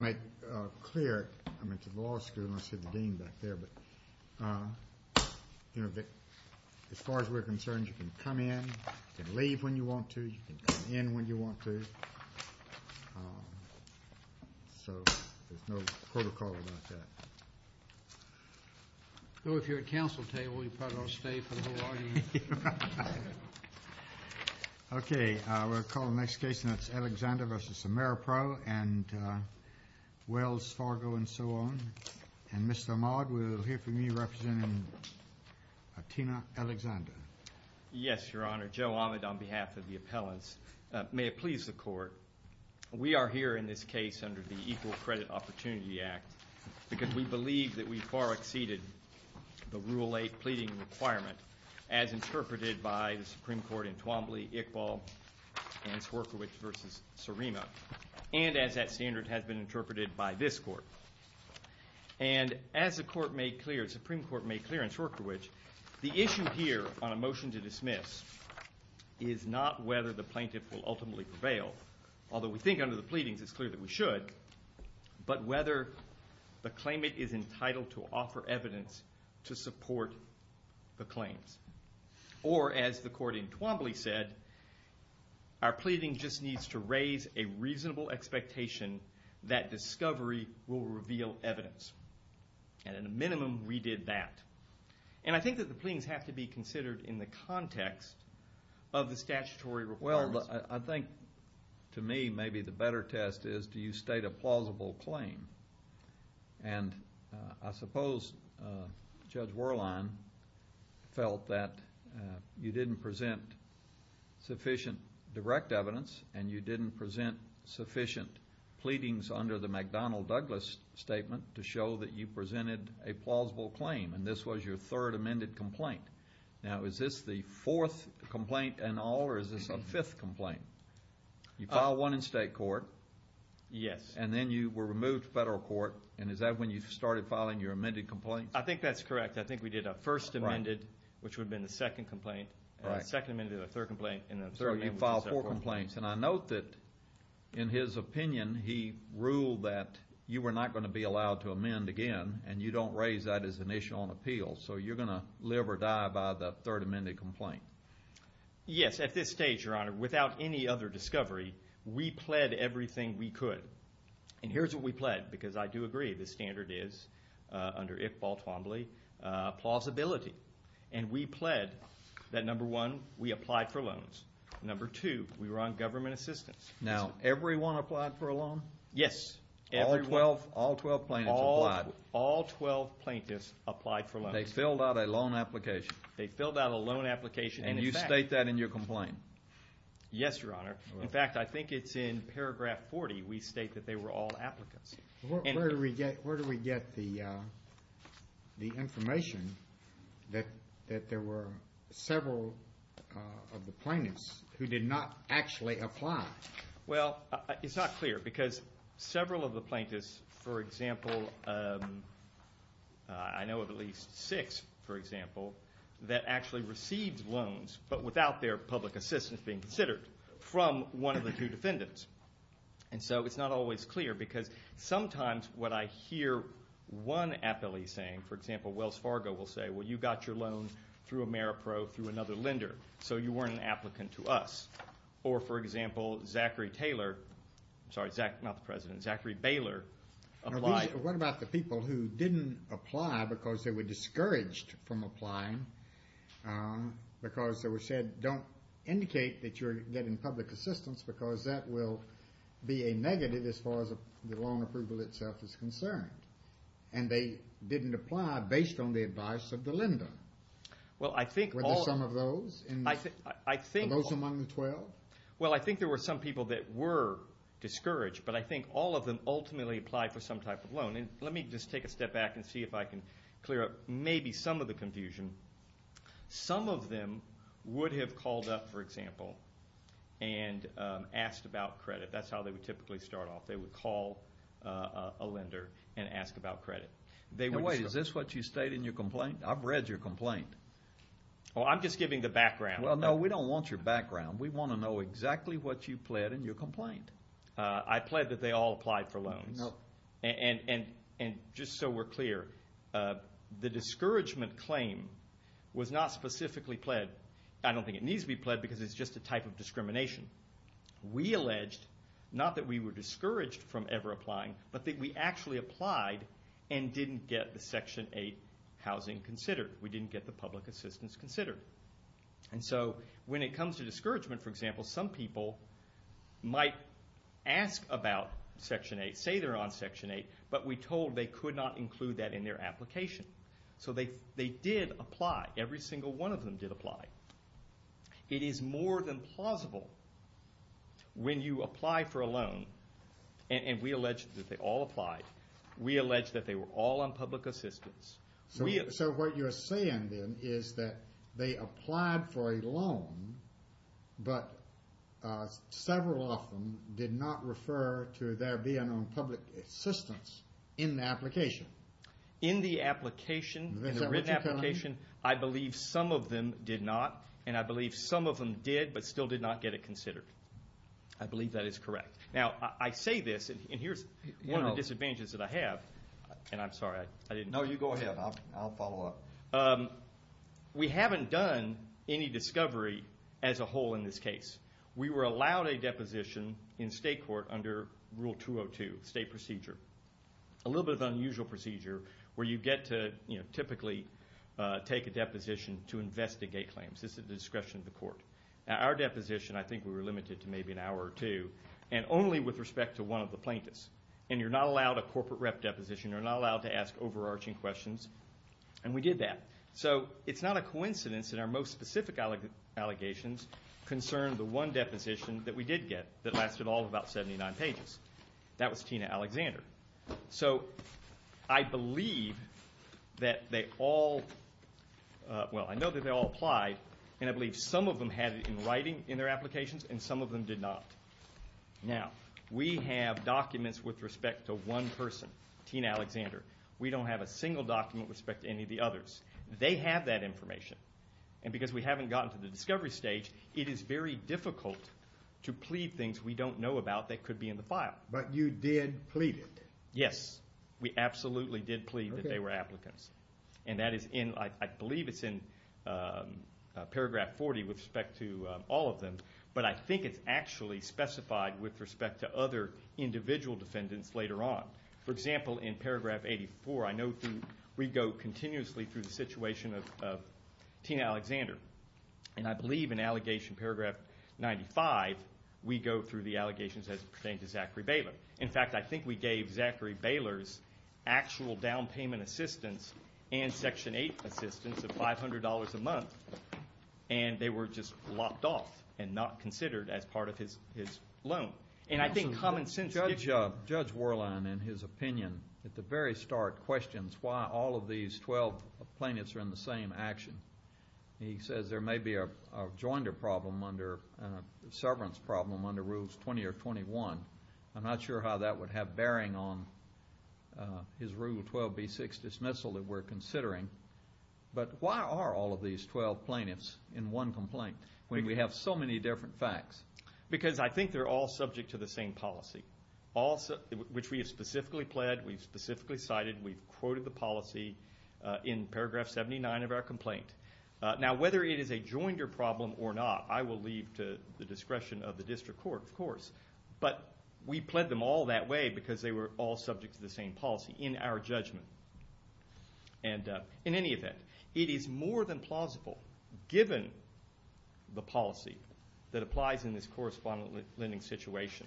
Make it clear to the law school, unless you're the dean back there, but as far as we're concerned, you can come in, you can leave when you want to, you can come in when you want to, so there's no protocol about that. Well, if you're at council table, you probably ought to stay for the whole argument. Thank you. Okay, we'll call the next case, and that's Alexander v. Ameripro and Wells Fargo and so on. And Mr. Maude will hear from you, representing Tina Alexander. Yes, Your Honor. Joe Ahmed on behalf of the appellants. May it please the court, we are here in this case under the Equal Credit Opportunity Act, because we believe that we've far exceeded the Rule 8 pleading requirement, as interpreted by the Supreme Court in Twombly, Iqbal, and Swierkiewicz v. Sarema, and as that standard has been interpreted by this court. And as the Supreme Court made clear in Swierkiewicz, the issue here on a motion to dismiss is not whether the plaintiff will ultimately prevail, although we think under the pleadings it's clear that we should, but whether the claimant is entitled to offer evidence to support the claims. Or, as the court in Twombly said, our pleading just needs to raise a reasonable expectation that discovery will reveal evidence. And in a minimum, we did that. And I think that the pleadings have to be considered in the context of the statutory requirements. Well, I think, to me, maybe the better test is do you state a plausible claim? And I suppose Judge Werlein felt that you didn't present sufficient direct evidence, and you didn't present sufficient pleadings under the McDonnell-Douglas statement to show that you presented a plausible claim. And this was your third amended complaint. Now, is this the fourth complaint in all, or is this a fifth complaint? You filed one in state court. Yes. And then you were removed to federal court. And is that when you started filing your amended complaints? I think that's correct. I think we did a first amended, which would have been the second complaint. Right. And a second amended, a third complaint, and a third amendment. So you filed four complaints. And I note that in his opinion, he ruled that you were not going to be allowed to amend again, and you don't raise that as an issue on appeal. So you're going to live or die by the third amended complaint. Yes. At this stage, Your Honor, without any other discovery, we pled everything we could. And here's what we pled, because I do agree. The standard is, under Iqbal Twombly, plausibility. And we pled that, number one, we applied for loans. Number two, we were on government assistance. Now, everyone applied for a loan? Yes. All 12 plaintiffs applied? All 12 plaintiffs applied for loans. They filled out a loan application. They filled out a loan application. And you state that in your complaint. Yes, Your Honor. In fact, I think it's in paragraph 40. We state that they were all applicants. Where do we get the information that there were several of the plaintiffs who did not actually apply? Well, it's not clear, because several of the plaintiffs, for example, I know of at least six, for example, that actually received loans but without their public assistance being considered from one of the two defendants. And so it's not always clear, because sometimes what I hear one appellee saying, for example, Wells Fargo will say, well, you got your loan through Ameripro through another lender, so you weren't an applicant to us. Or, for example, Zachary Taylor, I'm sorry, not the President, Zachary Baylor applied. Now, what about the people who didn't apply because they were discouraged from applying, because they were said, don't indicate that you're getting public assistance, because that will be a negative as far as the loan approval itself is concerned. And they didn't apply based on the advice of the lender. Well, I think all of them. Were there some of those? The most among the 12? Well, I think there were some people that were discouraged, but I think all of them ultimately applied for some type of loan. And let me just take a step back and see if I can clear up maybe some of the confusion. Some of them would have called up, for example, and asked about credit. That's how they would typically start off. They would call a lender and ask about credit. Wait, is this what you state in your complaint? I've read your complaint. Well, I'm just giving the background. Well, no, we don't want your background. We want to know exactly what you pled in your complaint. I pled that they all applied for loans. And just so we're clear, the discouragement claim was not specifically pled. I don't think it needs to be pled because it's just a type of discrimination. We alleged, not that we were discouraged from ever applying, but that we actually applied and didn't get the Section 8 housing considered. We didn't get the public assistance considered. And so when it comes to discouragement, for example, some people might ask about Section 8, say they're on Section 8, but we told they could not include that in their application. So they did apply. Every single one of them did apply. It is more than plausible when you apply for a loan, and we allege that they all applied. We allege that they were all on public assistance. So what you're saying, then, is that they applied for a loan, but several of them did not refer to their being on public assistance in the application. In the application, in the written application, I believe some of them did not, and I believe some of them did but still did not get it considered. I believe that is correct. Now, I say this, and here's one of the disadvantages that I have. And I'm sorry, I didn't know. No, you go ahead. I'll follow up. We haven't done any discovery as a whole in this case. We were allowed a deposition in state court under Rule 202, state procedure. A little bit of an unusual procedure where you get to typically take a deposition to investigate claims. This is at the discretion of the court. Our deposition, I think we were limited to maybe an hour or two, and only with respect to one of the plaintiffs. And you're not allowed a corporate rep deposition. You're not allowed to ask overarching questions. And we did that. So it's not a coincidence that our most specific allegations concern the one deposition that we did get that lasted all of about 79 pages. That was Tina Alexander. So I believe that they all, well, I know that they all applied, and I believe some of them had it in writing in their applications and some of them did not. Now, we have documents with respect to one person, Tina Alexander. We don't have a single document with respect to any of the others. They have that information. And because we haven't gotten to the discovery stage, it is very difficult to plead things we don't know about that could be in the file. But you did plead it? Yes. We absolutely did plead that they were applicants. And that is in, I believe it's in paragraph 40 with respect to all of them. But I think it's actually specified with respect to other individual defendants later on. For example, in paragraph 84, I know we go continuously through the situation of Tina Alexander. And I believe in allegation paragraph 95, we go through the allegations that pertain to Zachary Baylor. In fact, I think we gave Zachary Baylor's actual down payment assistance and section 8 assistance of $500 a month, and they were just locked off and not considered as part of his loan. And I think common sense gets you. Judge Worline, in his opinion, at the very start, questions why all of these 12 plaintiffs are in the same action. He says there may be a joinder problem, a severance problem under Rules 20 or 21. I'm not sure how that would have bearing on his Rule 12b6 dismissal that we're considering. But why are all of these 12 plaintiffs in one complaint when we have so many different facts? Because I think they're all subject to the same policy, which we have specifically pled, we've specifically cited, we've quoted the policy in paragraph 79 of our complaint. Now, whether it is a joinder problem or not, I will leave to the discretion of the district court, of course. But we pled them all that way because they were all subject to the same policy in our judgment. And in any event, it is more than plausible, given the policy that applies in this correspondence lending situation,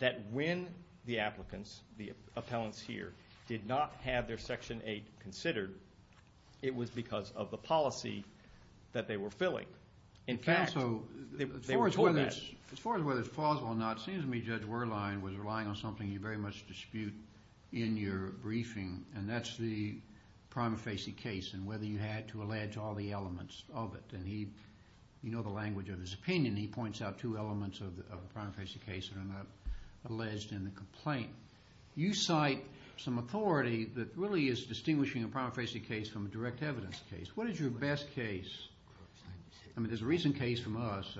that when the applicants, the appellants here, did not have their Section 8 considered, it was because of the policy that they were filling. In fact, they were told that. As far as whether it's plausible or not, it seems to me Judge Worline was relying on something you very much dispute in your briefing, and that's the prima facie case and whether you had to allege all the elements of it. And he, you know the language of his opinion, he points out two elements of the prima facie case that are not alleged in the complaint. You cite some authority that really is distinguishing a prima facie case from a direct evidence case. What is your best case? I mean, there's a recent case from us,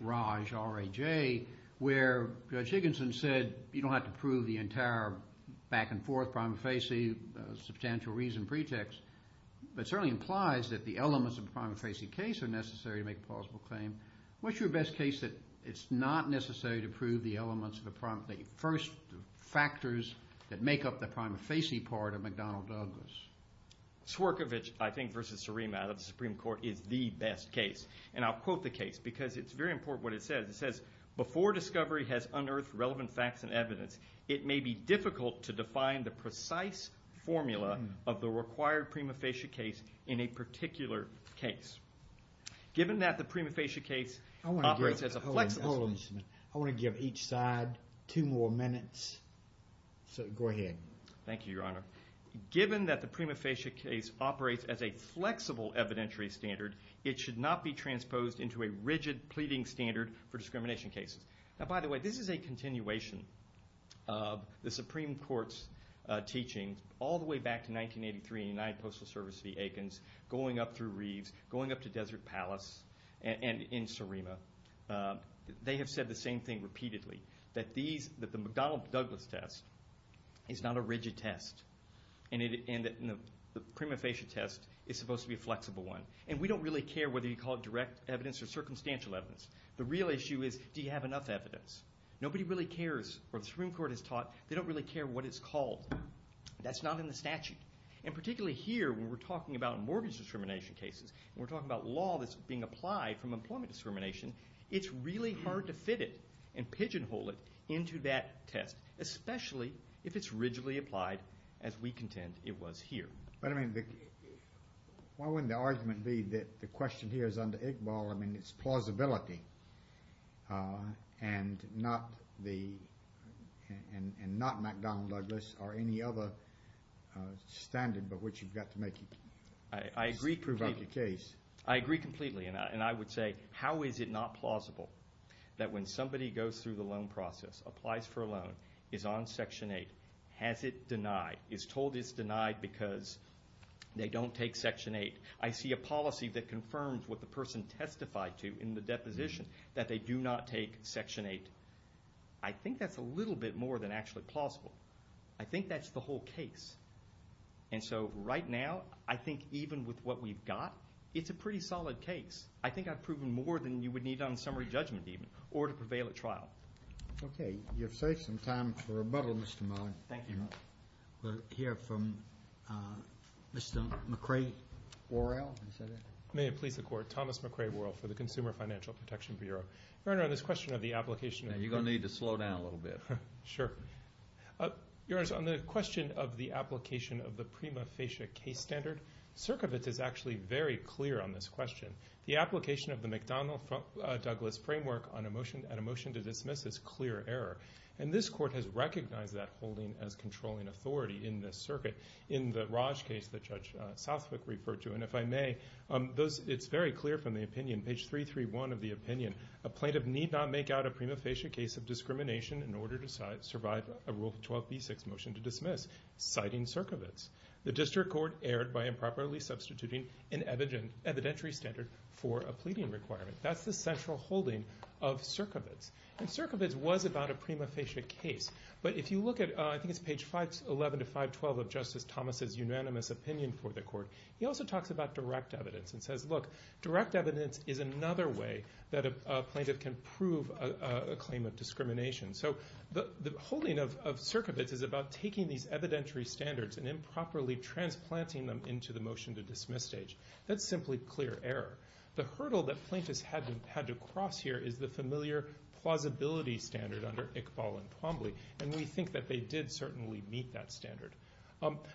Raj, R-A-J, where Judge Higginson said you don't have to prove the entire back-and-forth prima facie, substantial reason pretext, but it certainly implies that the elements of the prima facie case are necessary to make a plausible claim. What's your best case that it's not necessary to prove the elements of the first factors that make up the prima facie part of McDonnell Douglas? Swerkovich, I think, versus Serena out of the Supreme Court is the best case. And I'll quote the case because it's very important what it says. It says, before discovery has unearthed relevant facts and evidence, it may be difficult to define the precise formula of the required prima facie case in a particular case. Given that the prima facie case operates as a flexible... Hold on just a minute. I want to give each side two more minutes, so go ahead. Thank you, Your Honor. Given that the prima facie case operates as a flexible evidentiary standard, it should not be transposed into a rigid pleading standard for discrimination cases. Now, by the way, this is a continuation of the Supreme Court's teaching all the way back to 1983 in United Postal Service v. Aikens, going up through Reeves, going up to Desert Palace, and in Serena. They have said the same thing repeatedly, that the McDonnell Douglas test is not a rigid test, and the prima facie test is supposed to be a flexible one. And we don't really care whether you call it direct evidence or circumstantial evidence. The real issue is, do you have enough evidence? Nobody really cares what the Supreme Court has taught. They don't really care what it's called. That's not in the statute. And particularly here when we're talking about mortgage discrimination cases and we're talking about law that's being applied from employment discrimination, it's really hard to fit it and pigeonhole it into that test, especially if it's rigidly applied as we contend it was here. But, I mean, why wouldn't the argument be that the question here is under Iqbal. I mean, it's plausibility and not McDonnell Douglas or any other standard by which you've got to make it. I agree completely. And I would say, how is it not plausible that when somebody goes through the loan process, applies for a loan, is on Section 8, has it denied, is told it's denied because they don't take Section 8. I see a policy that confirms what the person testified to in the deposition, that they do not take Section 8. I think that's a little bit more than actually plausible. I think that's the whole case. And so right now, I think even with what we've got, it's a pretty solid case. I think I've proven more than you would need on summary judgment even or to prevail at trial. Okay. You've saved some time for rebuttal, Mr. Mullen. Thank you. We'll hear from Mr. McRae Worrell. May it please the Court. Thomas McRae Worrell for the Consumer Financial Protection Bureau. Your Honor, on this question of the application of the You're going to need to slow down a little bit. Sure. Your Honor, on the question of the application of the prima facie case standard, Cerkovic is actually very clear on this question. The application of the McDonnell Douglas framework on a motion to dismiss is clear error. And this Court has recognized that holding as controlling authority in this circuit. In the Raj case that Judge Southwick referred to, and if I may, it's very clear from the opinion, page 331 of the opinion, a plaintiff need not make out a prima facie case of discrimination in order to survive a Rule 12b6 motion to dismiss, citing Cerkovic. The district court erred by improperly substituting an evidentiary standard for a pleading requirement. That's the central holding of Cerkovic. And Cerkovic was about a prima facie case. But if you look at, I think it's page 11 to 512 of Justice Thomas' unanimous opinion for the Court, he also talks about direct evidence and says, look, direct evidence is another way that a plaintiff can prove a claim of discrimination. So the holding of Cerkovic is about taking these evidentiary standards and improperly transplanting them into the motion to dismiss stage. That's simply clear error. The hurdle that plaintiffs had to cross here is the familiar plausibility standard under Iqbal and Twombly, and we think that they did certainly meet that standard.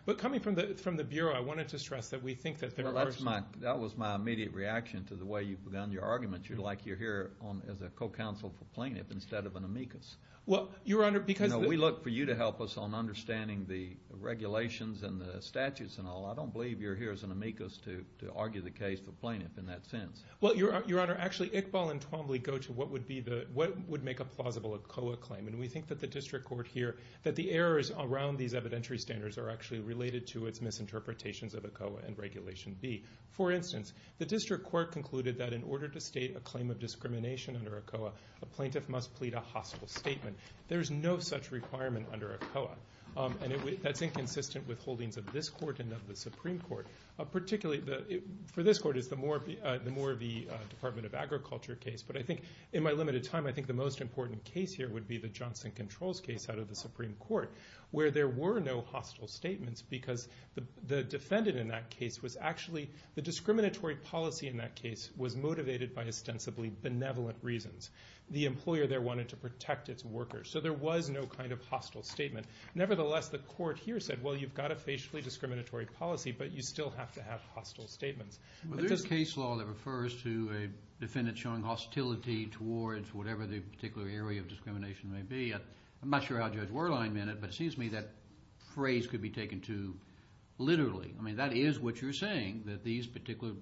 But coming from the Bureau, I wanted to stress that we think that there are some Well, that was my immediate reaction to the way you've begun your argument. You're like you're here as a co-counsel for plaintiff instead of an amicus. Well, Your Honor, because No, we look for you to help us on understanding the regulations and the statutes and all. I don't believe you're here as an amicus to argue the case for plaintiff in that sense. Well, Your Honor, actually Iqbal and Twombly go to what would make a plausible ACOA claim, and we think that the district court here, that the errors around these evidentiary standards are actually related to its misinterpretations of ACOA and Regulation B. For instance, the district court concluded that in order to state a claim of discrimination under ACOA, a plaintiff must plead a hostile statement. There is no such requirement under ACOA, and that's inconsistent with holdings of this court and of the Supreme Court. Particularly for this court, it's the Moore v. Department of Agriculture case, but I think in my limited time, I think the most important case here would be the Johnson Controls case out of the Supreme Court, where there were no hostile statements because the defendant in that case was actually the discriminatory policy in that case was motivated by ostensibly benevolent reasons. The employer there wanted to protect its workers, so there was no kind of hostile statement. Nevertheless, the court here said, well, you've got a facially discriminatory policy, but you still have to have hostile statements. Well, there's a case law that refers to a defendant showing hostility towards whatever the particular area of discrimination may be. I'm not sure how Judge Werlein meant it, but it seems to me that phrase could be taken too literally. I mean, that is what you're saying, that these particular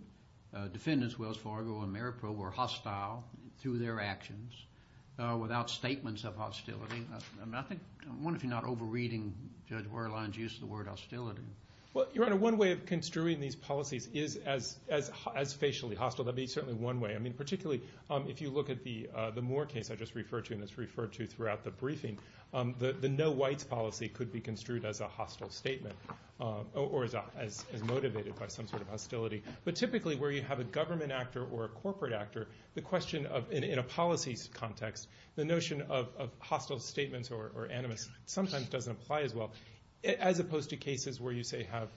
defendants, Wells Fargo and Maripro, were hostile through their actions without statements of hostility. I wonder if you're not over-reading Judge Werlein's use of the word hostility. Well, Your Honor, one way of construing these policies is as facially hostile. That would be certainly one way. I mean, particularly if you look at the Moore case I just referred to and it's referred to throughout the briefing, the no-whites policy could be construed as a hostile statement or as motivated by some sort of hostility. But typically, where you have a government actor or a corporate actor, the question of, in a policy context, the notion of hostile statements or animus sometimes doesn't apply as well, as opposed to cases where you, say, have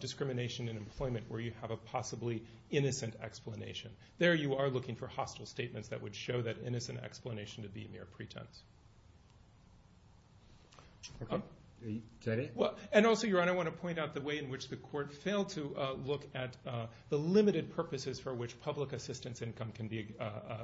discrimination in employment where you have a possibly innocent explanation. There you are looking for hostile statements that would show that innocent explanation to be mere pretense. And also, Your Honor, I want to point out the way in which the court failed to look at the limited purposes for which public assistance income can be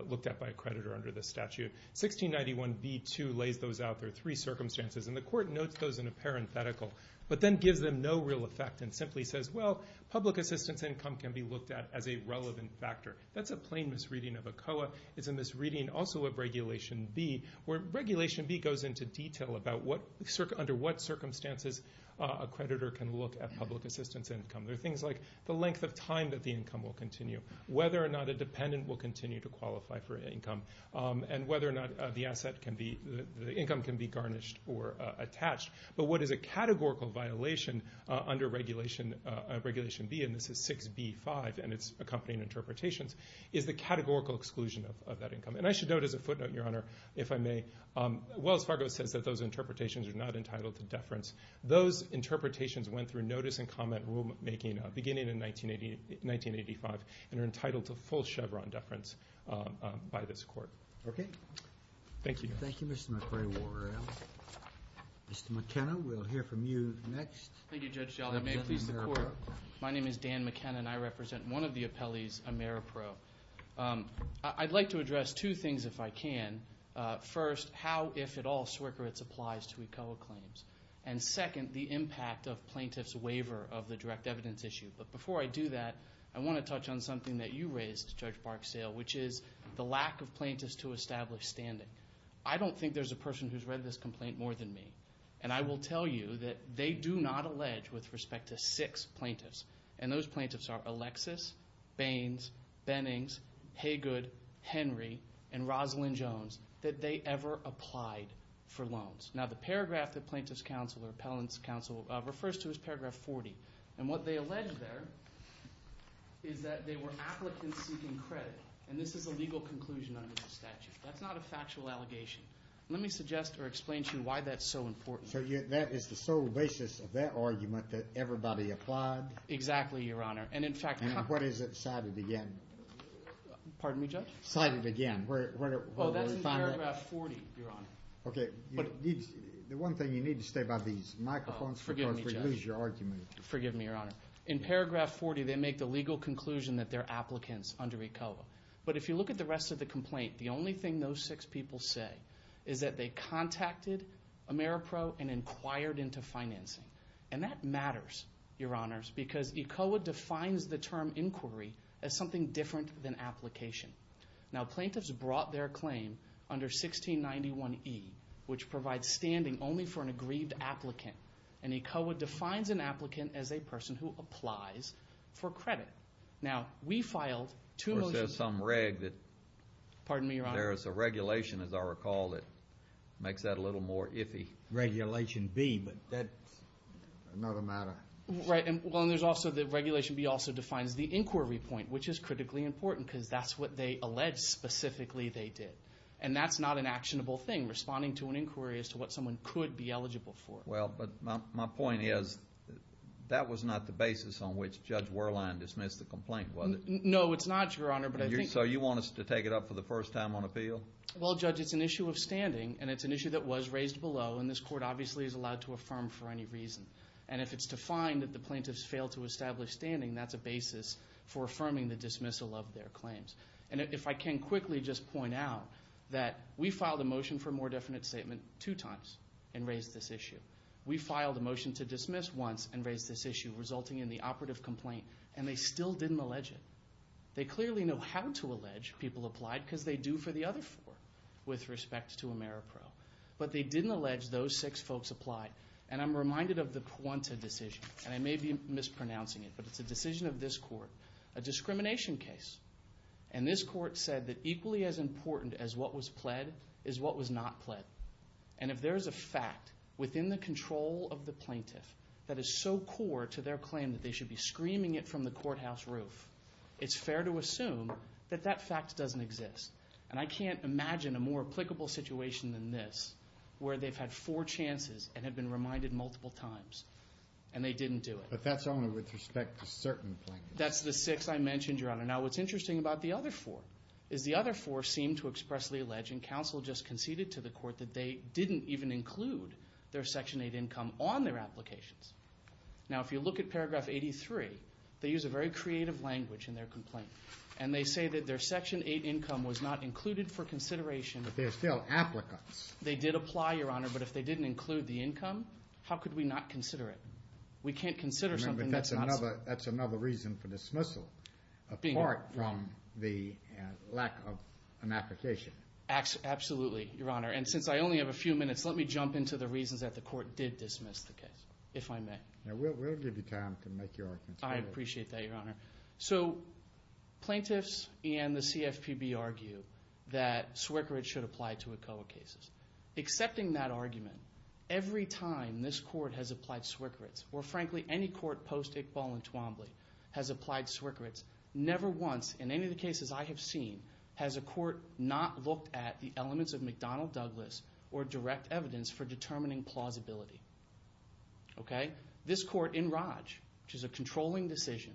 looked at by a creditor under the statute. 1691b.2 lays those out. There are three circumstances, and the court notes those in a parenthetical but then gives them no real effect and simply says, well, public assistance income can be looked at as a relevant factor. That's a plain misreading of ACOA. It's a misreading also of Regulation B, where Regulation B goes into detail about under what circumstances a creditor can look at public assistance income. There are things like the length of time that the income will continue, whether or not a dependent will continue to qualify for income, and whether or not the income can be garnished or attached. But what is a categorical violation under Regulation B, and this is 6b.5 and its accompanying interpretations, is the categorical exclusion of that income. And I should note as a footnote, Your Honor, if I may, Wells Fargo says that those interpretations are not entitled to deference. Those interpretations went through notice and comment rulemaking beginning in 1985 and are entitled to full Chevron deference by this court. Okay. Thank you. Thank you, Mr. McRae-Warrell. Mr. McKenna, we'll hear from you next. Thank you, Judge Gellar. May it please the Court. My name is Dan McKenna, and I represent one of the appellees, Ameripro. I'd like to address two things if I can. First, how, if at all, Swerkowitz applies to ACOA claims. And second, the impact of plaintiffs' waiver of the direct evidence issue. But before I do that, I want to touch on something that you raised, Judge Barksdale, which is the lack of plaintiffs to establish standing. I don't think there's a person who's read this complaint more than me. And I will tell you that they do not allege, with respect to six plaintiffs, and those plaintiffs are Alexis, Baines, Bennings, Haygood, Henry, and Rosalynn Jones, that they ever applied for loans. Now, the paragraph that plaintiffs' counsel or appellants' counsel refers to is paragraph 40. And what they allege there is that they were applicants seeking credit. And this is a legal conclusion under the statute. That's not a factual allegation. Let me suggest or explain to you why that's so important. So that is the sole basis of that argument that everybody applied? Exactly, Your Honor. And in fact, what is it cited again? Pardon me, Judge? Cited again. Oh, that's in paragraph 40, Your Honor. Okay. The one thing you need to say about these microphones because we lose your argument. Forgive me, Your Honor. In paragraph 40, they make the legal conclusion that they're applicants under ECOA. But if you look at the rest of the complaint, the only thing those six people say is that they contacted Ameripro and inquired into financing. And that matters, Your Honors, because ECOA defines the term inquiry as something different than application. Now, plaintiffs brought their claim under 1691E, which provides standing only for an aggrieved applicant. And ECOA defines an applicant as a person who applies for credit. Now, we filed two motions. Or says some reg that there is a regulation, as I recall, that makes that a little more iffy. Regulation B, but that's not a matter. Right. And there's also the regulation B also defines the inquiry point, which is critically important because that's what they allege specifically they did. And that's not an actionable thing, responding to an inquiry as to what someone could be eligible for. Well, but my point is that was not the basis on which Judge Werlein dismissed the complaint, was it? No, it's not, Your Honor. So you want us to take it up for the first time on appeal? Well, Judge, it's an issue of standing, and it's an issue that was raised below, and this court obviously is allowed to affirm for any reason. And if it's defined that the plaintiffs failed to establish standing, that's a basis for affirming the dismissal of their claims. And if I can quickly just point out that we filed a motion for a more definite statement two times and raised this issue. We filed a motion to dismiss once and raised this issue, resulting in the operative complaint, and they still didn't allege it. They clearly know how to allege people applied because they do for the other four with respect to Ameripro. But they didn't allege those six folks applied, and I'm reminded of the Puente decision, and I may be mispronouncing it, but it's a decision of this court, a discrimination case. And this court said that equally as important as what was pled is what was not pled. And if there is a fact within the control of the plaintiff that is so core to their claim that they should be screaming it from the courthouse roof, it's fair to assume that that fact doesn't exist. And I can't imagine a more applicable situation than this where they've had four chances and have been reminded multiple times, and they didn't do it. But that's only with respect to certain plaintiffs. That's the six I mentioned, Your Honor. Now, what's interesting about the other four is the other four seem to expressly allege, and counsel just conceded to the court, that they didn't even include their Section 8 income on their applications. Now, if you look at paragraph 83, they use a very creative language in their complaint, and they say that their Section 8 income was not included for consideration. But they're still applicants. They did apply, Your Honor, but if they didn't include the income, how could we not consider it? We can't consider something that's not. That's another reason for dismissal, apart from the lack of an application. Absolutely, Your Honor. And since I only have a few minutes, let me jump into the reasons that the court did dismiss the case, if I may. We'll give you time to make your arguments. I appreciate that, Your Honor. So plaintiffs and the CFPB argue that SWCCRTs should apply to ECOA cases. Accepting that argument, every time this court has applied SWCCRTs, or frankly, any court post-Iqbal and Twombly has applied SWCCRTs, never once in any of the cases I have seen has a court not looked at the elements of McDonnell Douglas or direct evidence for determining plausibility. Okay? This court in Raj, which is a controlling decision,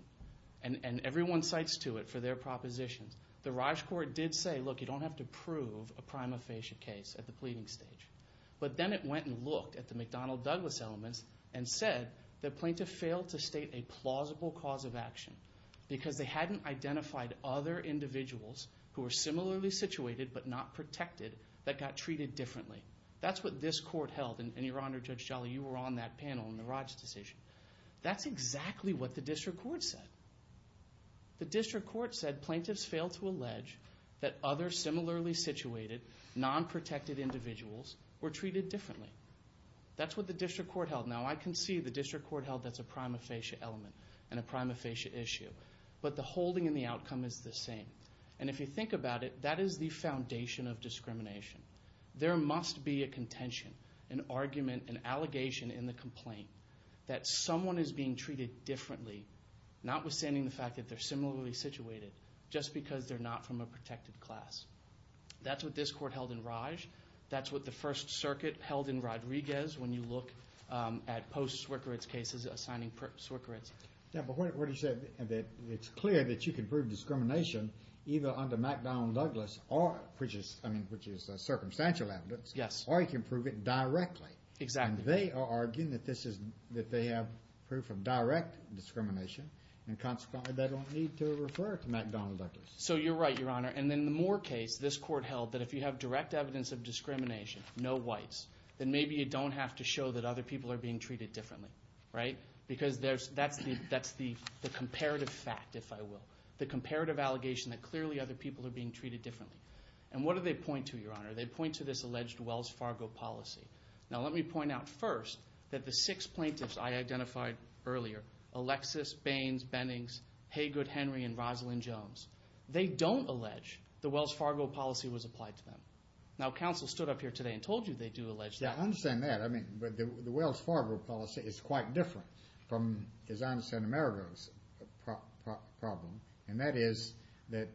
and everyone cites to it for their propositions, the Raj court did say, look, you don't have to prove a prima facie case at the pleading stage. But then it went and looked at the McDonnell Douglas elements and said the plaintiff failed to state a plausible cause of action because they hadn't identified other individuals who were similarly situated but not protected that got treated differently. That's what this court held, and Your Honor, Judge Jolly, you were on that panel in the Raj decision. That's exactly what the district court said. The district court said plaintiffs failed to allege that other similarly situated, non-protected individuals were treated differently. That's what the district court held. Now, I can see the district court held that's a prima facie element and a prima facie issue. But the holding and the outcome is the same. And if you think about it, that is the foundation of discrimination. There must be a contention, an argument, an allegation in the complaint that someone is being treated differently, notwithstanding the fact that they're similarly situated, just because they're not from a protected class. That's what this court held in Raj. That's what the First Circuit held in Rodriguez when you look at post-Swickard's cases assigning Swickards. Yeah, but what he said is that it's clear that you can prove discrimination either under McDonnell-Douglas, which is circumstantial evidence, or you can prove it directly. And they are arguing that they have proof of direct discrimination and consequently they don't need to refer to McDonnell-Douglas. So you're right, Your Honor. And in the Moore case, this court held that if you have direct evidence of discrimination, no whites, then maybe you don't have to show that other people are being treated differently. Because that's the comparative fact, if I will. The comparative allegation that clearly other people are being treated differently. And what do they point to, Your Honor? They point to this alleged Wells Fargo policy. Now let me point out first that the six plaintiffs I identified earlier, Alexis, Baines, Bennings, Haygood, Henry, and Rosalyn Jones, they don't allege the Wells Fargo policy was applied to them. Now counsel stood up here today and told you they do allege that. Yeah, I understand that. But the Wells Fargo policy is quite different from, as I understand, Amerigo's problem. And that is that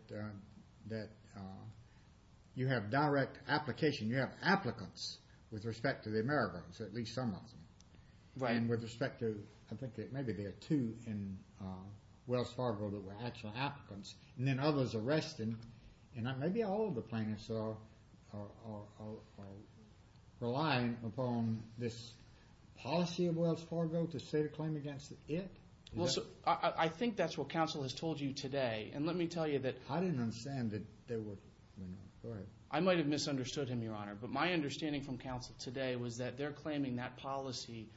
you have direct application. You have applicants with respect to the Amerigos, at least some of them. Right. And with respect to, I think maybe there are two in Wells Fargo that were actual applicants. And then others arrested. And maybe all of the plaintiffs are relying upon this policy of Wells Fargo to state a claim against it. I think that's what counsel has told you today. And let me tell you that— I didn't understand that there were—go ahead. I might have misunderstood him, Your Honor. But my understanding from counsel today was that they're claiming that policy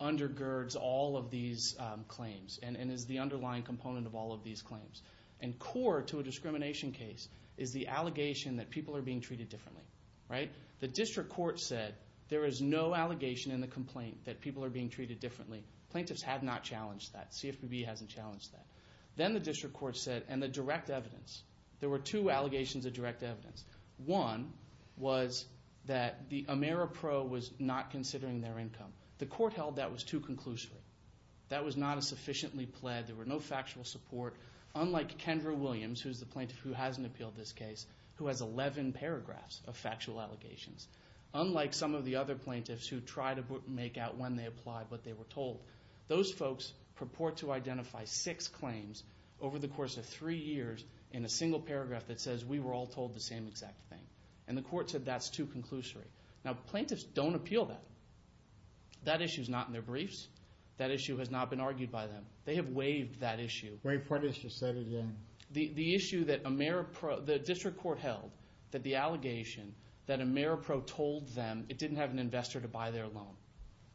undergirds all of these claims and is the underlying component of all of these claims. And core to a discrimination case is the allegation that people are being treated differently. Right. The district court said there is no allegation in the complaint that people are being treated differently. Plaintiffs have not challenged that. CFPB hasn't challenged that. Then the district court said—and the direct evidence. There were two allegations of direct evidence. One was that the Ameripro was not considering their income. The court held that was too conclusory. That was not a sufficiently pled. There were no factual support. Unlike Kendra Williams, who is the plaintiff who hasn't appealed this case, who has 11 paragraphs of factual allegations. Unlike some of the other plaintiffs who tried to make out when they applied what they were told. Those folks purport to identify six claims over the course of three years in a single paragraph that says, we were all told the same exact thing. And the court said that's too conclusory. Now, plaintiffs don't appeal that. That issue is not in their briefs. That issue has not been argued by them. They have waived that issue. Wait, what issue? Say it again. The issue that the district court held that the allegation that Ameripro told them it didn't have an investor to buy their loan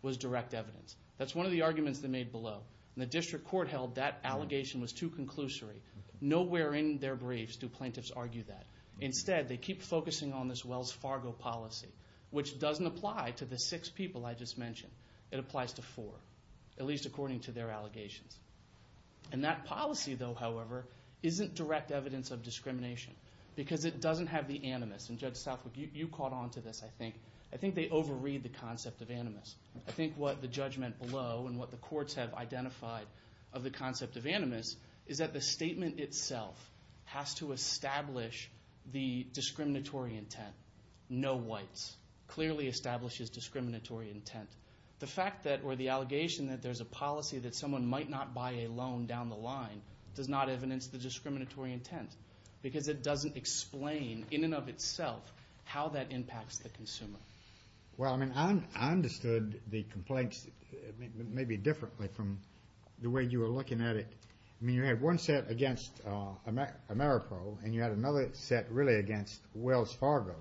was direct evidence. That's one of the arguments they made below. And the district court held that allegation was too conclusory. Nowhere in their briefs do plaintiffs argue that. Instead, they keep focusing on this Wells Fargo policy, which doesn't apply to the six people I just mentioned. It applies to four, at least according to their allegations. And that policy, though, however, isn't direct evidence of discrimination because it doesn't have the animus. And Judge Southwick, you caught on to this, I think. I think they overread the concept of animus. I think what the judge meant below and what the courts have identified of the concept of animus is that the statement itself has to establish the discriminatory intent. No whites. Clearly establishes discriminatory intent. The fact that or the allegation that there's a policy that someone might not buy a loan down the line does not evidence the discriminatory intent because it doesn't explain in and of itself how that impacts the consumer. Well, I mean, I understood the complaints maybe differently from the way you were looking at it. I mean, you had one set against Ameripro and you had another set really against Wells Fargo.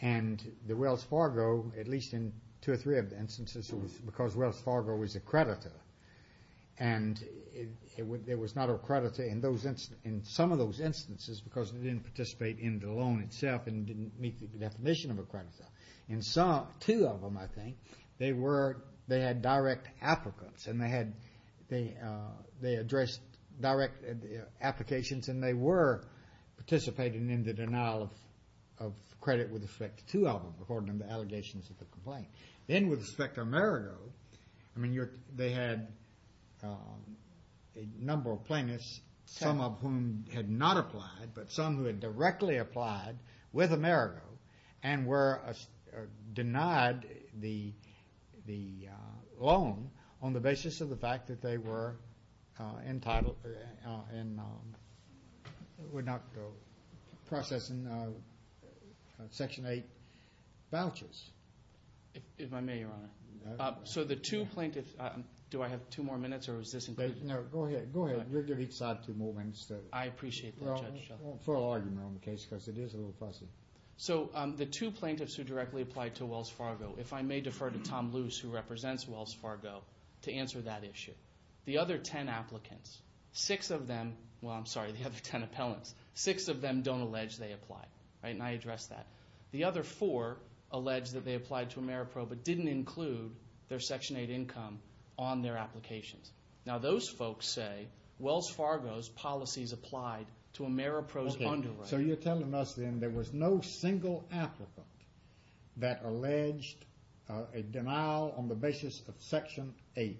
And the Wells Fargo, at least in two or three of the instances, it was because Wells Fargo was a creditor. And it was not a creditor in some of those instances because it didn't participate in the loan itself and didn't meet the definition of a creditor. In two of them, I think, they had direct applicants and they addressed direct applications and they were participating in the denial of credit with respect to two of them according to the allegations of the complaint. Then with respect to Amerigo, I mean, they had a number of plaintiffs, some of whom had not applied, but some who had directly applied with Amerigo and were denied the loan on the basis of the fact that they were entitled and would not process Section 8 vouchers. If I may, Your Honor. So the two plaintiffs, do I have two more minutes or is this included? No, go ahead. Go ahead. We'll give each side two more minutes. I appreciate that, Judge. I won't throw an argument on the case because it is a little fussy. So the two plaintiffs who directly applied to Wells Fargo, if I may defer to Tom Luce, who represents Wells Fargo, to answer that issue. The other ten applicants, six of them, well, I'm sorry, the other ten appellants, six of them don't allege they applied, and I addressed that. The other four allege that they applied to Ameripro, but didn't include their Section 8 income on their applications. Now those folks say Wells Fargo's policies applied to Ameripro's underwriting. Okay, so you're telling us then there was no single applicant that alleged a denial on the basis of Section 8.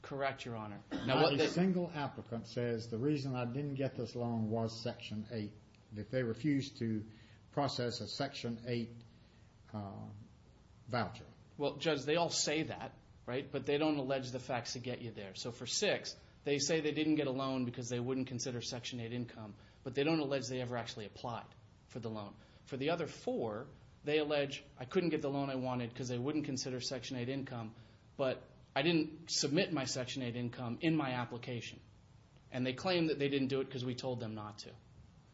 Correct, Your Honor. Not a single applicant says the reason I didn't get this loan was Section 8, that they refused to process a Section 8 voucher. Well, Judge, they all say that, right? But they don't allege the facts to get you there. So for six, they say they didn't get a loan because they wouldn't consider Section 8 income, but they don't allege they ever actually applied for the loan. For the other four, they allege I couldn't get the loan I wanted because they wouldn't consider Section 8 income, but I didn't submit my Section 8 income in my application, and they claim that they didn't do it because we told them not to.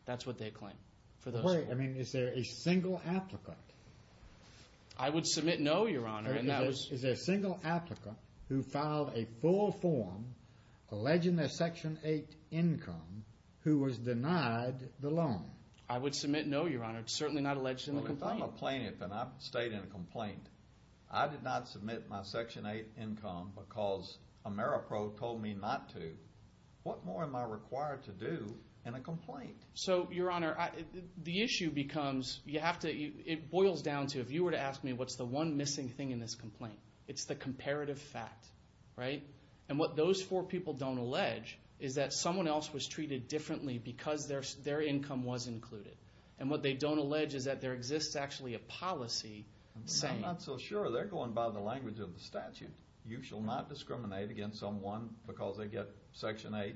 That's what they claim for those four. Wait, I mean, is there a single applicant? I would submit no, Your Honor. Is there a single applicant who filed a full form alleging their Section 8 income who was denied the loan? I would submit no, Your Honor. It's certainly not alleged in the complaint. Well, if I'm a plaintiff and I've stayed in a complaint, I did not submit my Section 8 income because Ameripro told me not to. What more am I required to do in a complaint? So, Your Honor, the issue becomes you have to—it boils down to, if you were to ask me what's the one missing thing in this complaint, it's the comparative fact, right? And what those four people don't allege is that someone else was treated differently because their income was included. And what they don't allege is that there exists actually a policy saying— I'm not so sure. They're going by the language of the statute. You shall not discriminate against someone because they get Section 8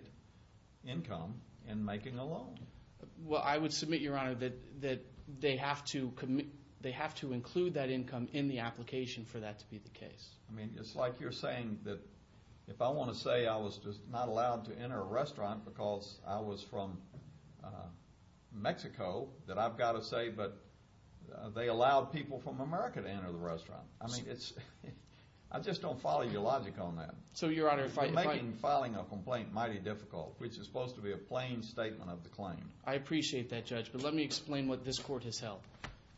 income in making a loan. Well, I would submit, Your Honor, that they have to include that income in the application for that to be the case. I mean, it's like you're saying that if I want to say I was just not allowed to enter a restaurant because I was from Mexico, that I've got to say, but they allowed people from America to enter the restaurant. I mean, I just don't follow your logic on that. So, Your Honor, if I— You're making filing a complaint mighty difficult, which is supposed to be a plain statement of the claim. I appreciate that, Judge, but let me explain what this Court has held.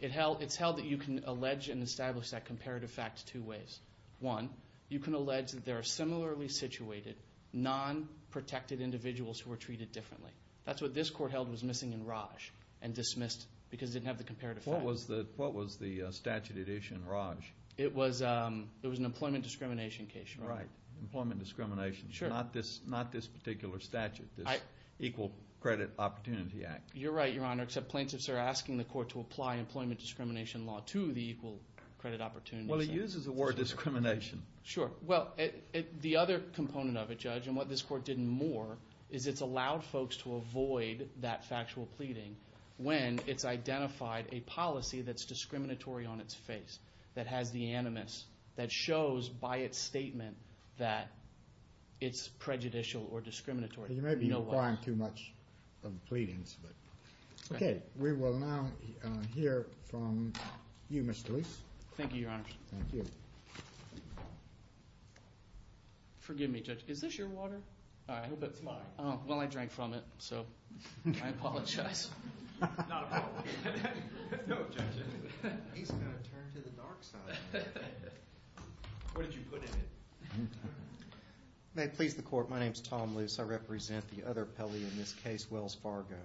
It's held that you can allege and establish that comparative fact two ways. One, you can allege that there are similarly situated, non-protected individuals who were treated differently. That's what this Court held was missing in Raj and dismissed because it didn't have the comparative fact. What was the statute at issue in Raj? It was an employment discrimination case, Your Honor. Right, employment discrimination. Sure. Not this particular statute, this Equal Credit Opportunity Act. You're right, Your Honor, except plaintiffs are asking the Court to apply employment discrimination law to the Equal Credit Opportunity Act. Well, it uses the word discrimination. Sure. Well, the other component of it, Judge, and what this Court did more, is it's allowed folks to avoid that factual pleading when it's identified a policy that's discriminatory on its face, that has the animus, that shows by its statement that it's prejudicial or discriminatory. You may be applying too much of the pleadings. Okay. We will now hear from you, Mr. Lease. Thank you, Your Honor. Thank you. Forgive me, Judge. Is this your water? I hope it's mine. Well, I drank from it, so I apologize. Not a problem. There's no objection. He's going to turn to the dark side. What did you put in it? May it please the Court, my name is Tom Lease. I represent the other appellee in this case, Wells Fargo.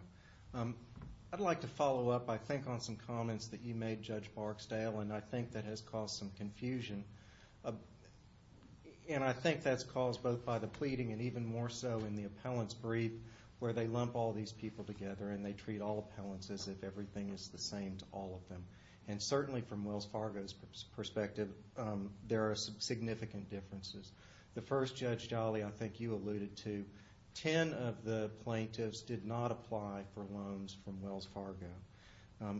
I'd like to follow up, I think, on some comments that you made, Judge Barksdale, and I think that has caused some confusion, and I think that's caused both by the pleading and even more so in the appellant's brief where they lump all these people together and they treat all appellants as if everything is the same to all of them. And certainly from Wells Fargo's perspective, there are some significant differences. The first, Judge Jolly, I think you alluded to, 10 of the plaintiffs did not apply for loans from Wells Fargo.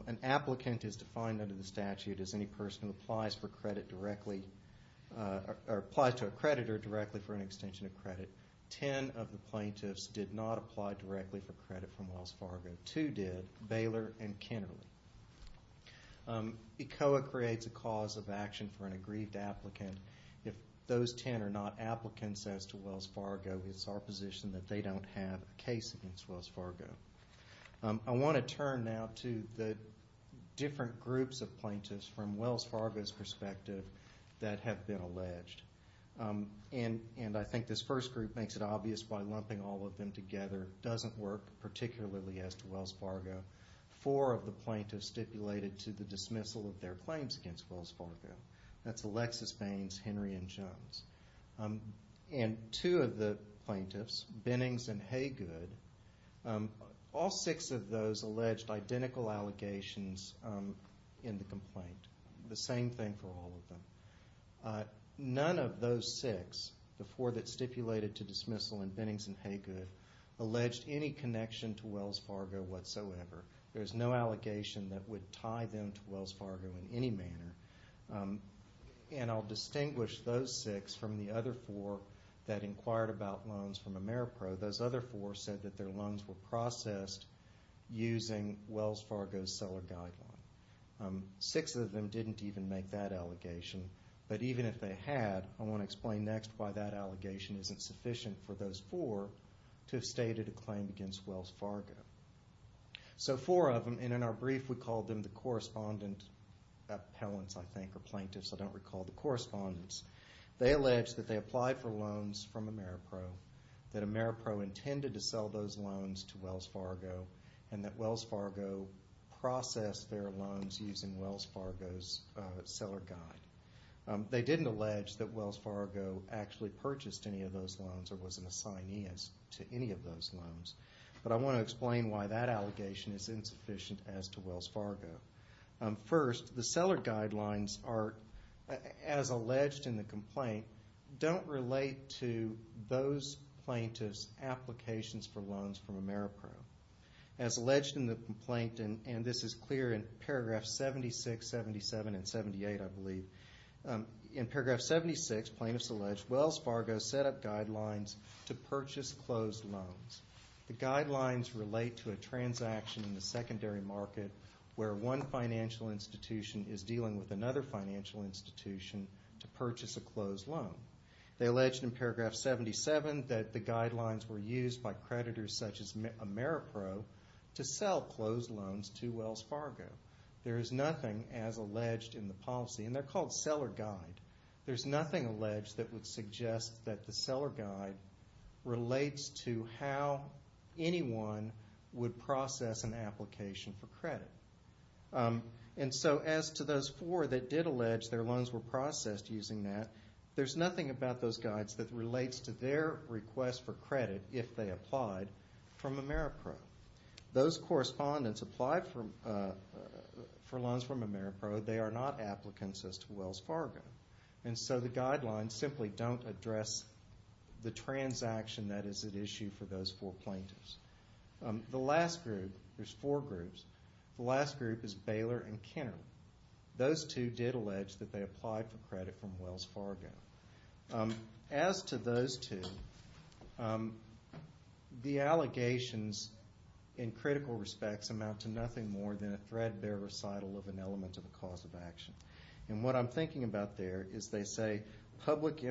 An applicant is defined under the statute as any person who applies for credit directly or applies to a creditor directly for an extension of credit. Ten of the plaintiffs did not apply directly for credit from Wells Fargo. Two did, Baylor and Kennerly. ECOA creates a cause of action for an aggrieved applicant. If those 10 are not applicants, as to Wells Fargo, it's our position that they don't have a case against Wells Fargo. I want to turn now to the different groups of plaintiffs from Wells Fargo's perspective that have been alleged. And I think this first group makes it obvious why lumping all of them together doesn't work, particularly as to Wells Fargo. Four of the plaintiffs stipulated to the dismissal of their claims against Wells Fargo. That's Alexis Baines, Henry, and Jones. And two of the plaintiffs, Binnings and Haygood, all six of those alleged identical allegations in the complaint. The same thing for all of them. None of those six, the four that stipulated to dismissal, and Binnings and Haygood, alleged any connection to Wells Fargo whatsoever. There's no allegation that would tie them to Wells Fargo in any manner. And I'll distinguish those six from the other four that inquired about loans from Ameripro. Those other four said that their loans were processed using Wells Fargo's seller guideline. Six of them didn't even make that allegation. But even if they had, I want to explain next why that allegation isn't sufficient for those four to have stated a claim against Wells Fargo. So four of them, and in our brief we called them the correspondent appellants, I think, or plaintiffs. I don't recall the correspondence. They alleged that they applied for loans from Ameripro, that Ameripro intended to sell those loans to Wells Fargo, and that Wells Fargo processed their loans using Wells Fargo's seller guide. They didn't allege that Wells Fargo actually purchased any of those loans or was an assignee to any of those loans. But I want to explain why that allegation is insufficient as to Wells Fargo. First, the seller guidelines are, as alleged in the complaint, don't relate to those plaintiffs' applications for loans from Ameripro. As alleged in the complaint, and this is clear in paragraph 76, 77, and 78, I believe, in paragraph 76, plaintiffs allege, Wells Fargo set up guidelines to purchase closed loans. The guidelines relate to a transaction in the secondary market where one financial institution is dealing with another financial institution to purchase a closed loan. They alleged in paragraph 77 that the guidelines were used by creditors such as Ameripro to sell closed loans to Wells Fargo. There is nothing as alleged in the policy, and they're called seller guide. There's nothing alleged that would suggest that the seller guide relates to how anyone would process an application for credit. And so as to those four that did allege their loans were processed using that, there's nothing about those guides that relates to their request for credit, if they applied, from Ameripro. Those correspondents applied for loans from Ameripro. They are not applicants as to Wells Fargo. And so the guidelines simply don't address the transaction that is at issue for those four plaintiffs. The last group, there's four groups. The last group is Baylor and Kennerly. Those two did allege that they applied for credit from Wells Fargo. As to those two, the allegations, in critical respects, amount to nothing more than a threadbare recital of an element of a cause of action. And what I'm thinking about there is they say public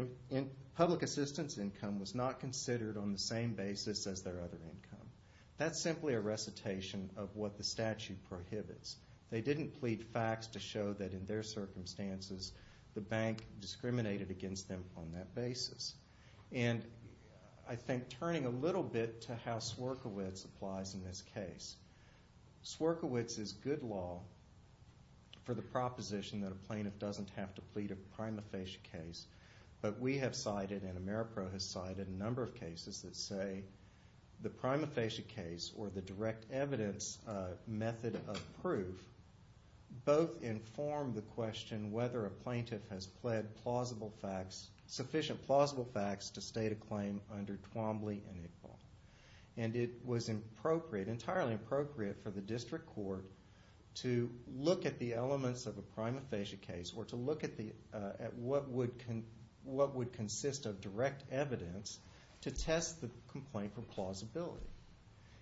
assistance income was not considered on the same basis as their other income. That's simply a recitation of what the statute prohibits. They didn't plead facts to show that in their circumstances the bank discriminated against them on that basis. And I think turning a little bit to how Swierkiewicz applies in this case, Swierkiewicz is good law for the proposition that a plaintiff doesn't have to plead a prima facie case. But we have cited and Ameripro has cited a number of cases that say the prima facie case or the direct evidence method of proof both inform the question whether a plaintiff has pled sufficient plausible facts to state a claim under Twombly and Iqbal. And it was entirely appropriate for the district court to look at the elements of a prima facie case or to look at what would consist of direct evidence to test the complaint for plausibility.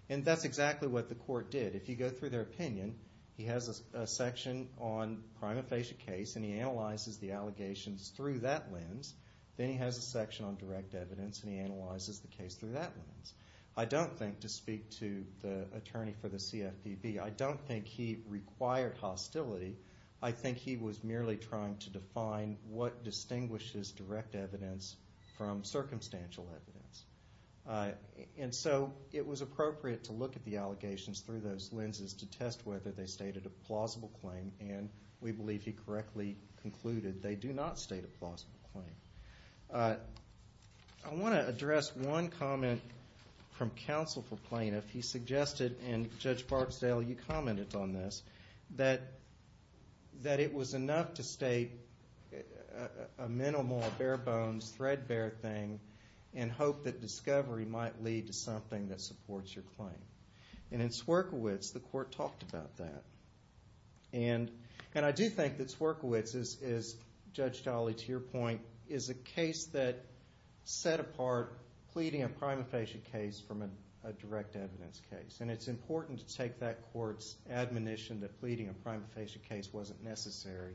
And that's exactly what the court did. If you go through their opinion, he has a section on prima facie case and he analyzes the allegations through that lens. Then he has a section on direct evidence and he analyzes the case through that lens. I don't think, to speak to the attorney for the CFPB, I don't think he required hostility. I think he was merely trying to define what distinguishes direct evidence from circumstantial evidence. And so it was appropriate to look at the allegations through those lenses to test whether they stated a plausible claim and we believe he correctly concluded they do not state a plausible claim. I want to address one comment from counsel for plaintiff. He suggested, and Judge Barksdale, you commented on this, that it was enough to state a minimal, a bare bones, threadbare thing and hope that discovery might lead to something that supports your claim. And in Swierkiewicz, the court talked about that. And I do think that Swierkiewicz, as Judge Dolly, to your point, is a case that set apart pleading a prima facie case from a direct evidence case. And it's important to take that court's admonition that pleading a prima facie case wasn't necessary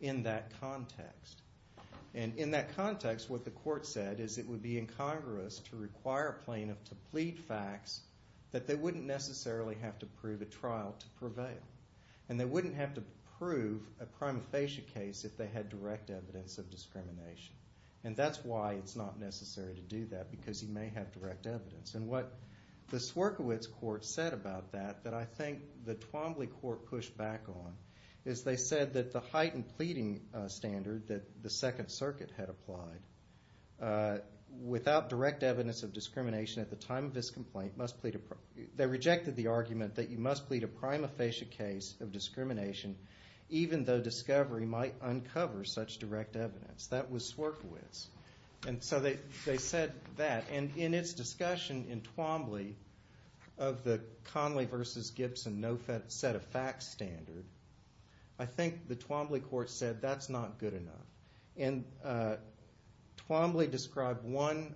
in that context. And in that context, what the court said is it would be incongruous to require a plaintiff to plead facts that they wouldn't necessarily have to prove at trial to prevail. And they wouldn't have to prove a prima facie case if they had direct evidence of discrimination. And that's why it's not necessary to do that because he may have direct evidence. And what the Swierkiewicz court said about that that I think the Twombly court pushed back on is they said that the heightened pleading standard that the Second Circuit had applied without direct evidence of discrimination at the time of this complaint, they rejected the argument that you must plead a prima facie case of discrimination even though discovery might uncover such direct evidence. That was Swierkiewicz. And so they said that. And in its discussion in Twombly of the Conley v. Gibson no set of facts standard, I think the Twombly court said that's not good enough. And Twombly described one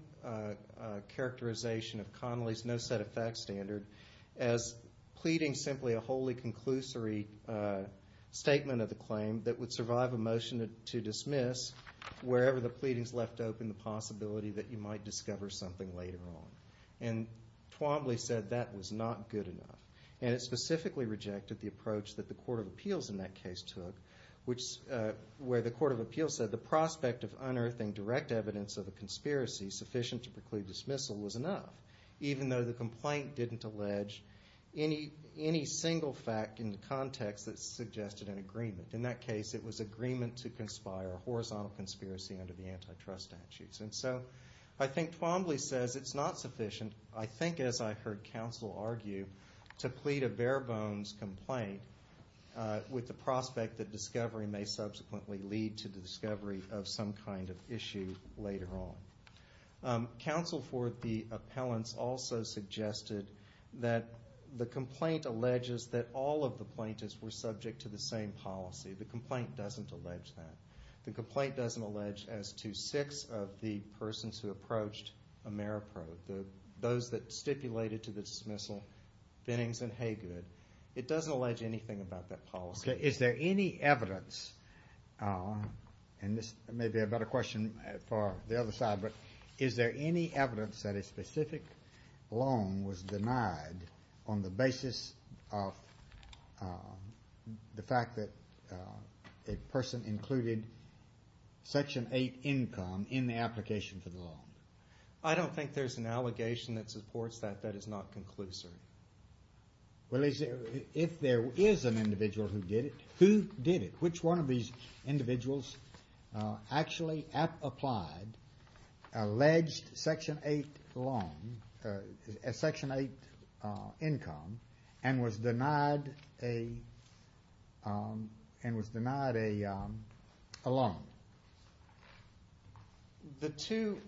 characterization of Conley's no set of facts standard as pleading simply a wholly conclusory statement of the claim that would survive a motion to dismiss wherever the pleadings left open the possibility that you might discover something later on. And Twombly said that was not good enough. And it specifically rejected the approach that the court of appeals in that case took where the court of appeals said the prospect of unearthing direct evidence of a conspiracy sufficient to preclude dismissal was enough even though the complaint didn't allege any single fact in the context that suggested an agreement. In that case it was agreement to conspire a horizontal conspiracy under the antitrust statutes. And so I think Twombly says it's not sufficient, I think as I heard counsel argue, to plead a bare bones complaint with the prospect that discovery may subsequently lead to the discovery of some kind of issue later on. Counsel for the appellants also suggested that the complaint alleges that all of the plaintiffs were subject to the same policy. The complaint doesn't allege that. The complaint doesn't allege as to six of the persons who approached Ameripro, those that stipulated to the dismissal, Binnings and Haygood. It doesn't allege anything about that policy. Okay. Is there any evidence, and this may be a better question for the other side, but is there any evidence that a specific loan was denied on the basis of the fact that a person included Section 8 income in the application for the loan? I don't think there's an allegation that supports that that is not conclusive. Well, if there is an individual who did it, who did it? Which one of these individuals actually applied alleged Section 8 loan, Section 8 income, and was denied a loan? The two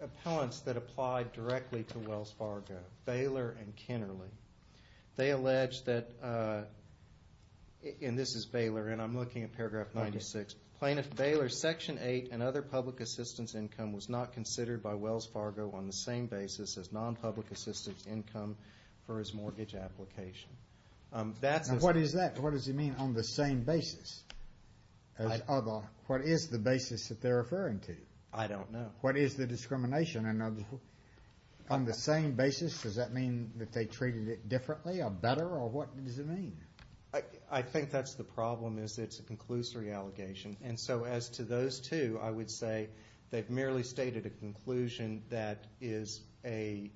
appellants that applied directly to Wells Fargo, Baylor and Kennerly, they alleged that, and this is Baylor, and I'm looking at paragraph 96, Plaintiff Baylor's Section 8 and other public assistance income was not considered by Wells Fargo on the same basis as non-public assistance income for his mortgage application. What is that? What does he mean on the same basis as other? What is the basis that they're referring to? I don't know. What is the discrimination? On the same basis, does that mean that they treated it differently or better, or what does it mean? I think that's the problem is it's a conclusory allegation, and so as to those two, I would say they've merely stated a conclusion that is a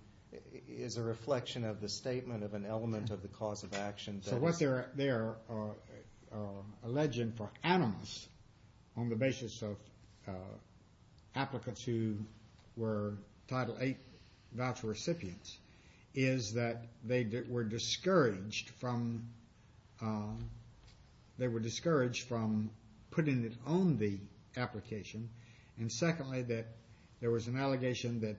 reflection of the statement of an element of the cause of action. So what they're alleging for animus on the basis of applicants who were Title 8 voucher recipients is that they were discouraged from putting it on the application, and secondly, that there was an allegation that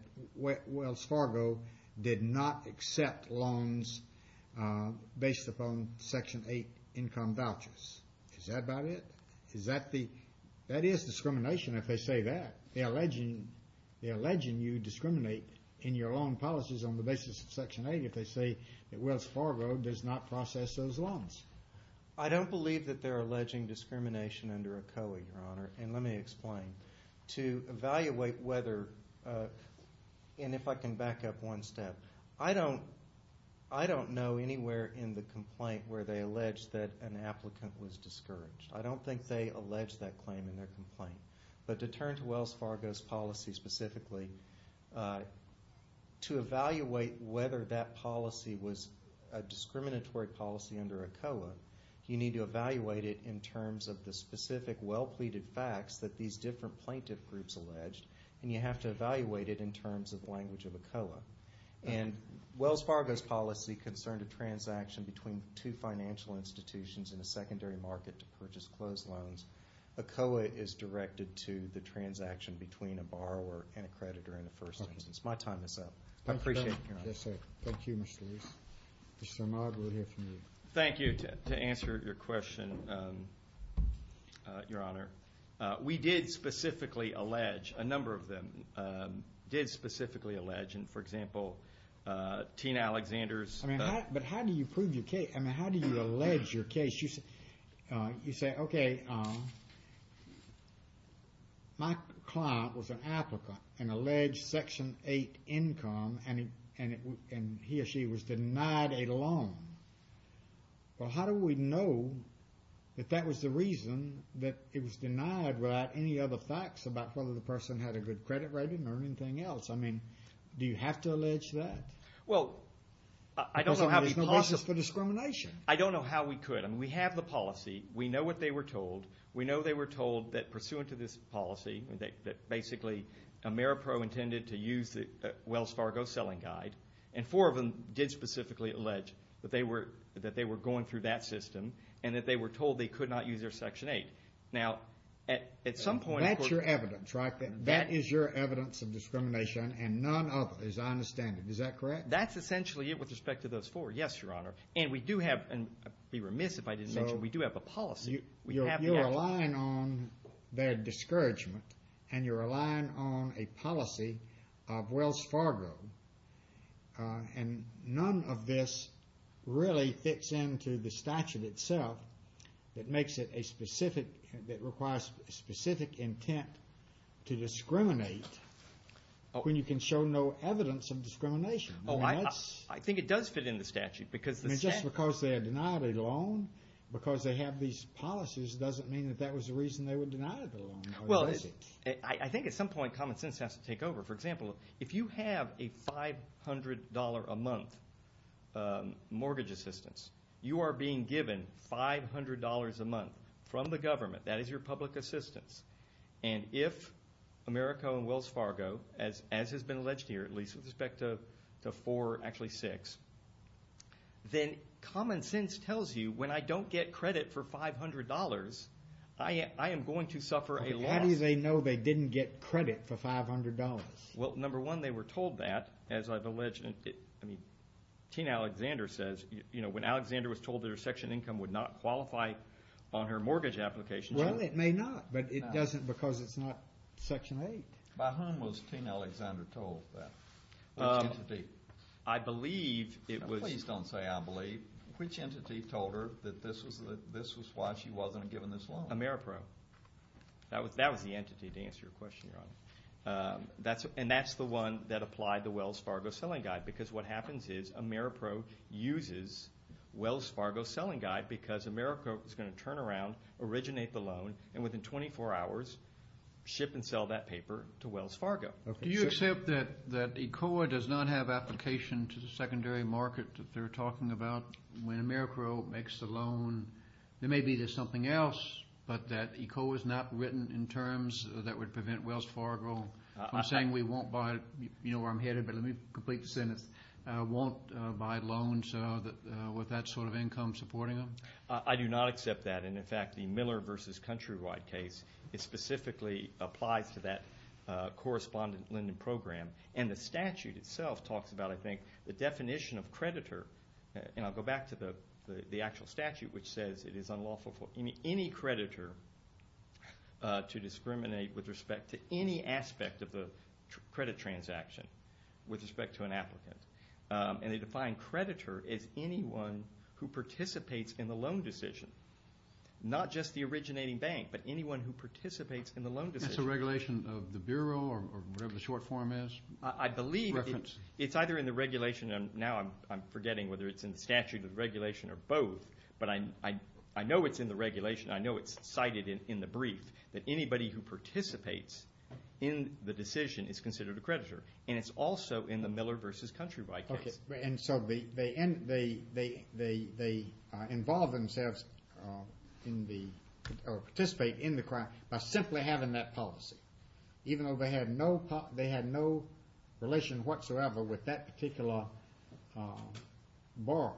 Wells Fargo did not accept loans based upon Section 8 income vouchers. Is that about it? That is discrimination if they say that. They're alleging you discriminate in your loan policies on the basis of Section 8 if they say that Wells Fargo does not process those loans. I don't believe that they're alleging discrimination under ACOE, Your Honor, and let me explain. To evaluate whether, and if I can back up one step, Your Honor, I don't know anywhere in the complaint where they allege that an applicant was discouraged. I don't think they allege that claim in their complaint, but to turn to Wells Fargo's policy specifically, to evaluate whether that policy was a discriminatory policy under ACOE, you need to evaluate it in terms of the specific well-pleaded facts that these different plaintiff groups alleged, and you have to evaluate it in terms of the language of ACOE. And Wells Fargo's policy concerned a transaction between two financial institutions in a secondary market to purchase closed loans. ACOE is directed to the transaction between a borrower and a creditor in the first instance. My time is up. I appreciate it, Your Honor. Yes, sir. Thank you, Mr. Lewis. Mr. Armagro, we'll hear from you. Thank you. To answer your question, Your Honor, we did specifically allege, a number of them did specifically allege, and for example, Tina Alexander's... But how do you prove your case? I mean, how do you allege your case? You say, okay, my client was an applicant and alleged Section 8 income, and he or she was denied a loan. Well, how do we know that that was the reason that it was denied without any other facts about whether the person had a good credit rating or anything else? I mean, do you have to allege that? Well, I don't know how we could. There's no basis for discrimination. I don't know how we could. I mean, we have the policy. We know what they were told. We know they were told that pursuant to this policy, that basically Ameripro intended to use Wells Fargo's selling guide, and four of them did specifically allege that they were going through that system and that they were told they could not use their Section 8. Now, at some point... That's your evidence, right? That is your evidence of discrimination, and none other, as I understand it. Is that correct? That's essentially it with respect to those four, yes, Your Honor. And we do have, and I'd be remiss if I didn't mention, we do have a policy. You're relying on their discouragement, and you're relying on a policy of Wells Fargo, and none of this really fits into the statute itself that makes it a specific, that requires specific intent to discriminate when you can show no evidence of discrimination. Oh, I think it does fit in the statute because the statute... I mean, just because they are denied a loan because they have these policies doesn't mean that that was the reason they were denied a loan, does it? Well, I think at some point common sense has to take over. For example, if you have a $500 a month mortgage assistance, you are being given $500 a month from the government. That is your public assistance. And if Ameripro and Wells Fargo, as has been alleged here, at least with respect to four, actually six, then common sense tells you when I don't get credit for $500, I am going to suffer a loss. How do they know they didn't get credit for $500? Well, number one, they were told that, as I've alleged. I mean, Tina Alexander says, you know, when Alexander was told that her section income would not qualify on her mortgage application... Well, it may not, but it doesn't because it's not Section 8. By whom was Tina Alexander told that? Which entity? I believe it was... Please don't say I believe. Which entity told her that this was why she wasn't given this loan? Ameripro. That was the entity, to answer your question, Your Honor. And that's the one that applied the Wells Fargo Selling Guide, because what happens is Ameripro uses Wells Fargo Selling Guide because Ameripro is going to turn around, originate the loan, and within 24 hours ship and sell that paper to Wells Fargo. Do you accept that ECOA does not have application to the secondary market that they're talking about when Ameripro makes the loan? There may be something else, but that ECOA is not written in terms that would prevent Wells Fargo from saying we won't buy, you know where I'm headed, but let me complete the sentence, won't buy loans with that sort of income supporting them? I do not accept that. And, in fact, the Miller v. Countrywide case specifically applies to that correspondent lending program. And the statute itself talks about, I think, the definition of creditor. And I'll go back to the actual statute, which says it is unlawful for any creditor to discriminate with respect to any aspect of the credit transaction with respect to an applicant. And they define creditor as anyone who participates in the loan decision. Not just the originating bank, but anyone who participates in the loan decision. Is this a regulation of the Bureau or whatever the short form is? I believe it's either in the regulation, and now I'm forgetting whether it's in the statute or the regulation or both, but I know it's in the regulation. I know it's cited in the brief that anybody who participates in the decision is considered a creditor. And it's also in the Miller v. Countrywide case. And so they involve themselves in the or participate in the crime by simply having that policy. Even though they had no relation whatsoever with that particular borrower,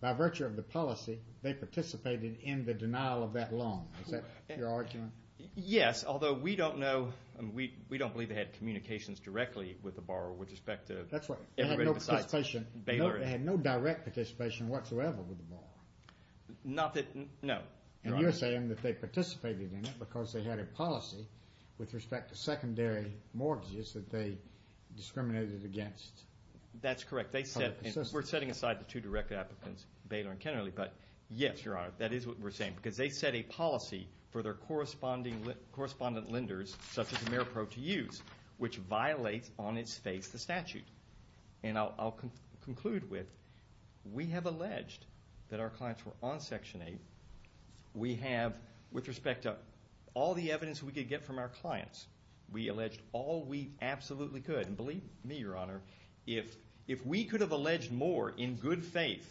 by virtue of the policy, they participated in the denial of that loan. Is that your argument? Yes, although we don't know. We don't believe they had communications directly with the borrower with respect to everybody besides Baylor. They had no direct participation whatsoever with the borrower? No, Your Honor. And you're saying that they participated in it because they had a policy with respect to secondary mortgages that they discriminated against? That's correct. We're setting aside the two direct applicants, Baylor and Kennerly. But yes, Your Honor, that is what we're saying. Because they set a policy for their correspondent lenders, such as Ameripro to use, which violates on its face the statute. And I'll conclude with we have alleged that our clients were on Section 8. We have, with respect to all the evidence we could get from our clients, we alleged all we absolutely could. And believe me, Your Honor, if we could have alleged more in good faith,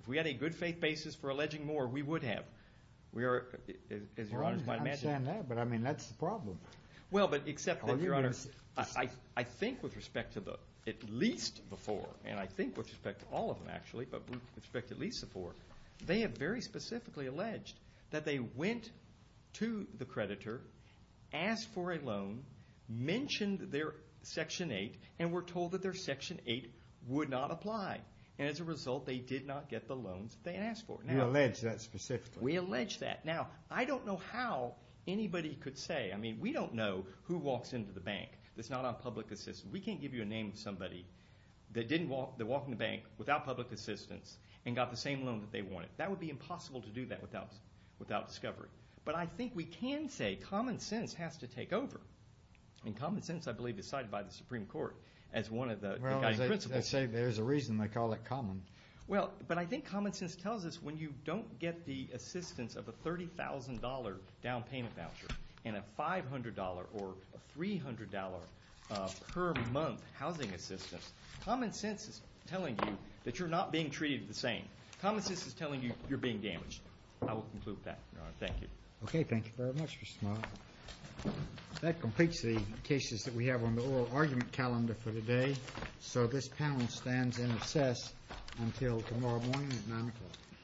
if we had a good faith basis for alleging more, we would have. I understand that, but I mean that's the problem. Well, but except that, Your Honor, I think with respect to at least the four, and I think with respect to all of them actually, but with respect to at least the four, they have very specifically alleged that they went to the creditor, asked for a loan, mentioned their Section 8, and were told that their Section 8 would not apply. And as a result, they did not get the loans that they had asked for. You allege that specifically? We allege that. Now, I don't know how anybody could say. I mean, we don't know who walks into the bank that's not on public assistance. We can't give you a name of somebody that walked into the bank without public assistance and got the same loan that they wanted. That would be impossible to do that without discovery. But I think we can say common sense has to take over. And common sense, I believe, is cited by the Supreme Court as one of the guiding principles. Well, they say there's a reason they call it common. Well, but I think common sense tells us when you don't get the assistance of a $30,000 down payment voucher and a $500 or $300 per month housing assistance, common sense is telling you that you're not being treated the same. Common sense is telling you you're being damaged. I will conclude that, Your Honor. Thank you. Okay. Thank you very much, Mr. Smart. That completes the cases that we have on the oral argument calendar for today. So this panel stands in recess until tomorrow morning at 9 o'clock.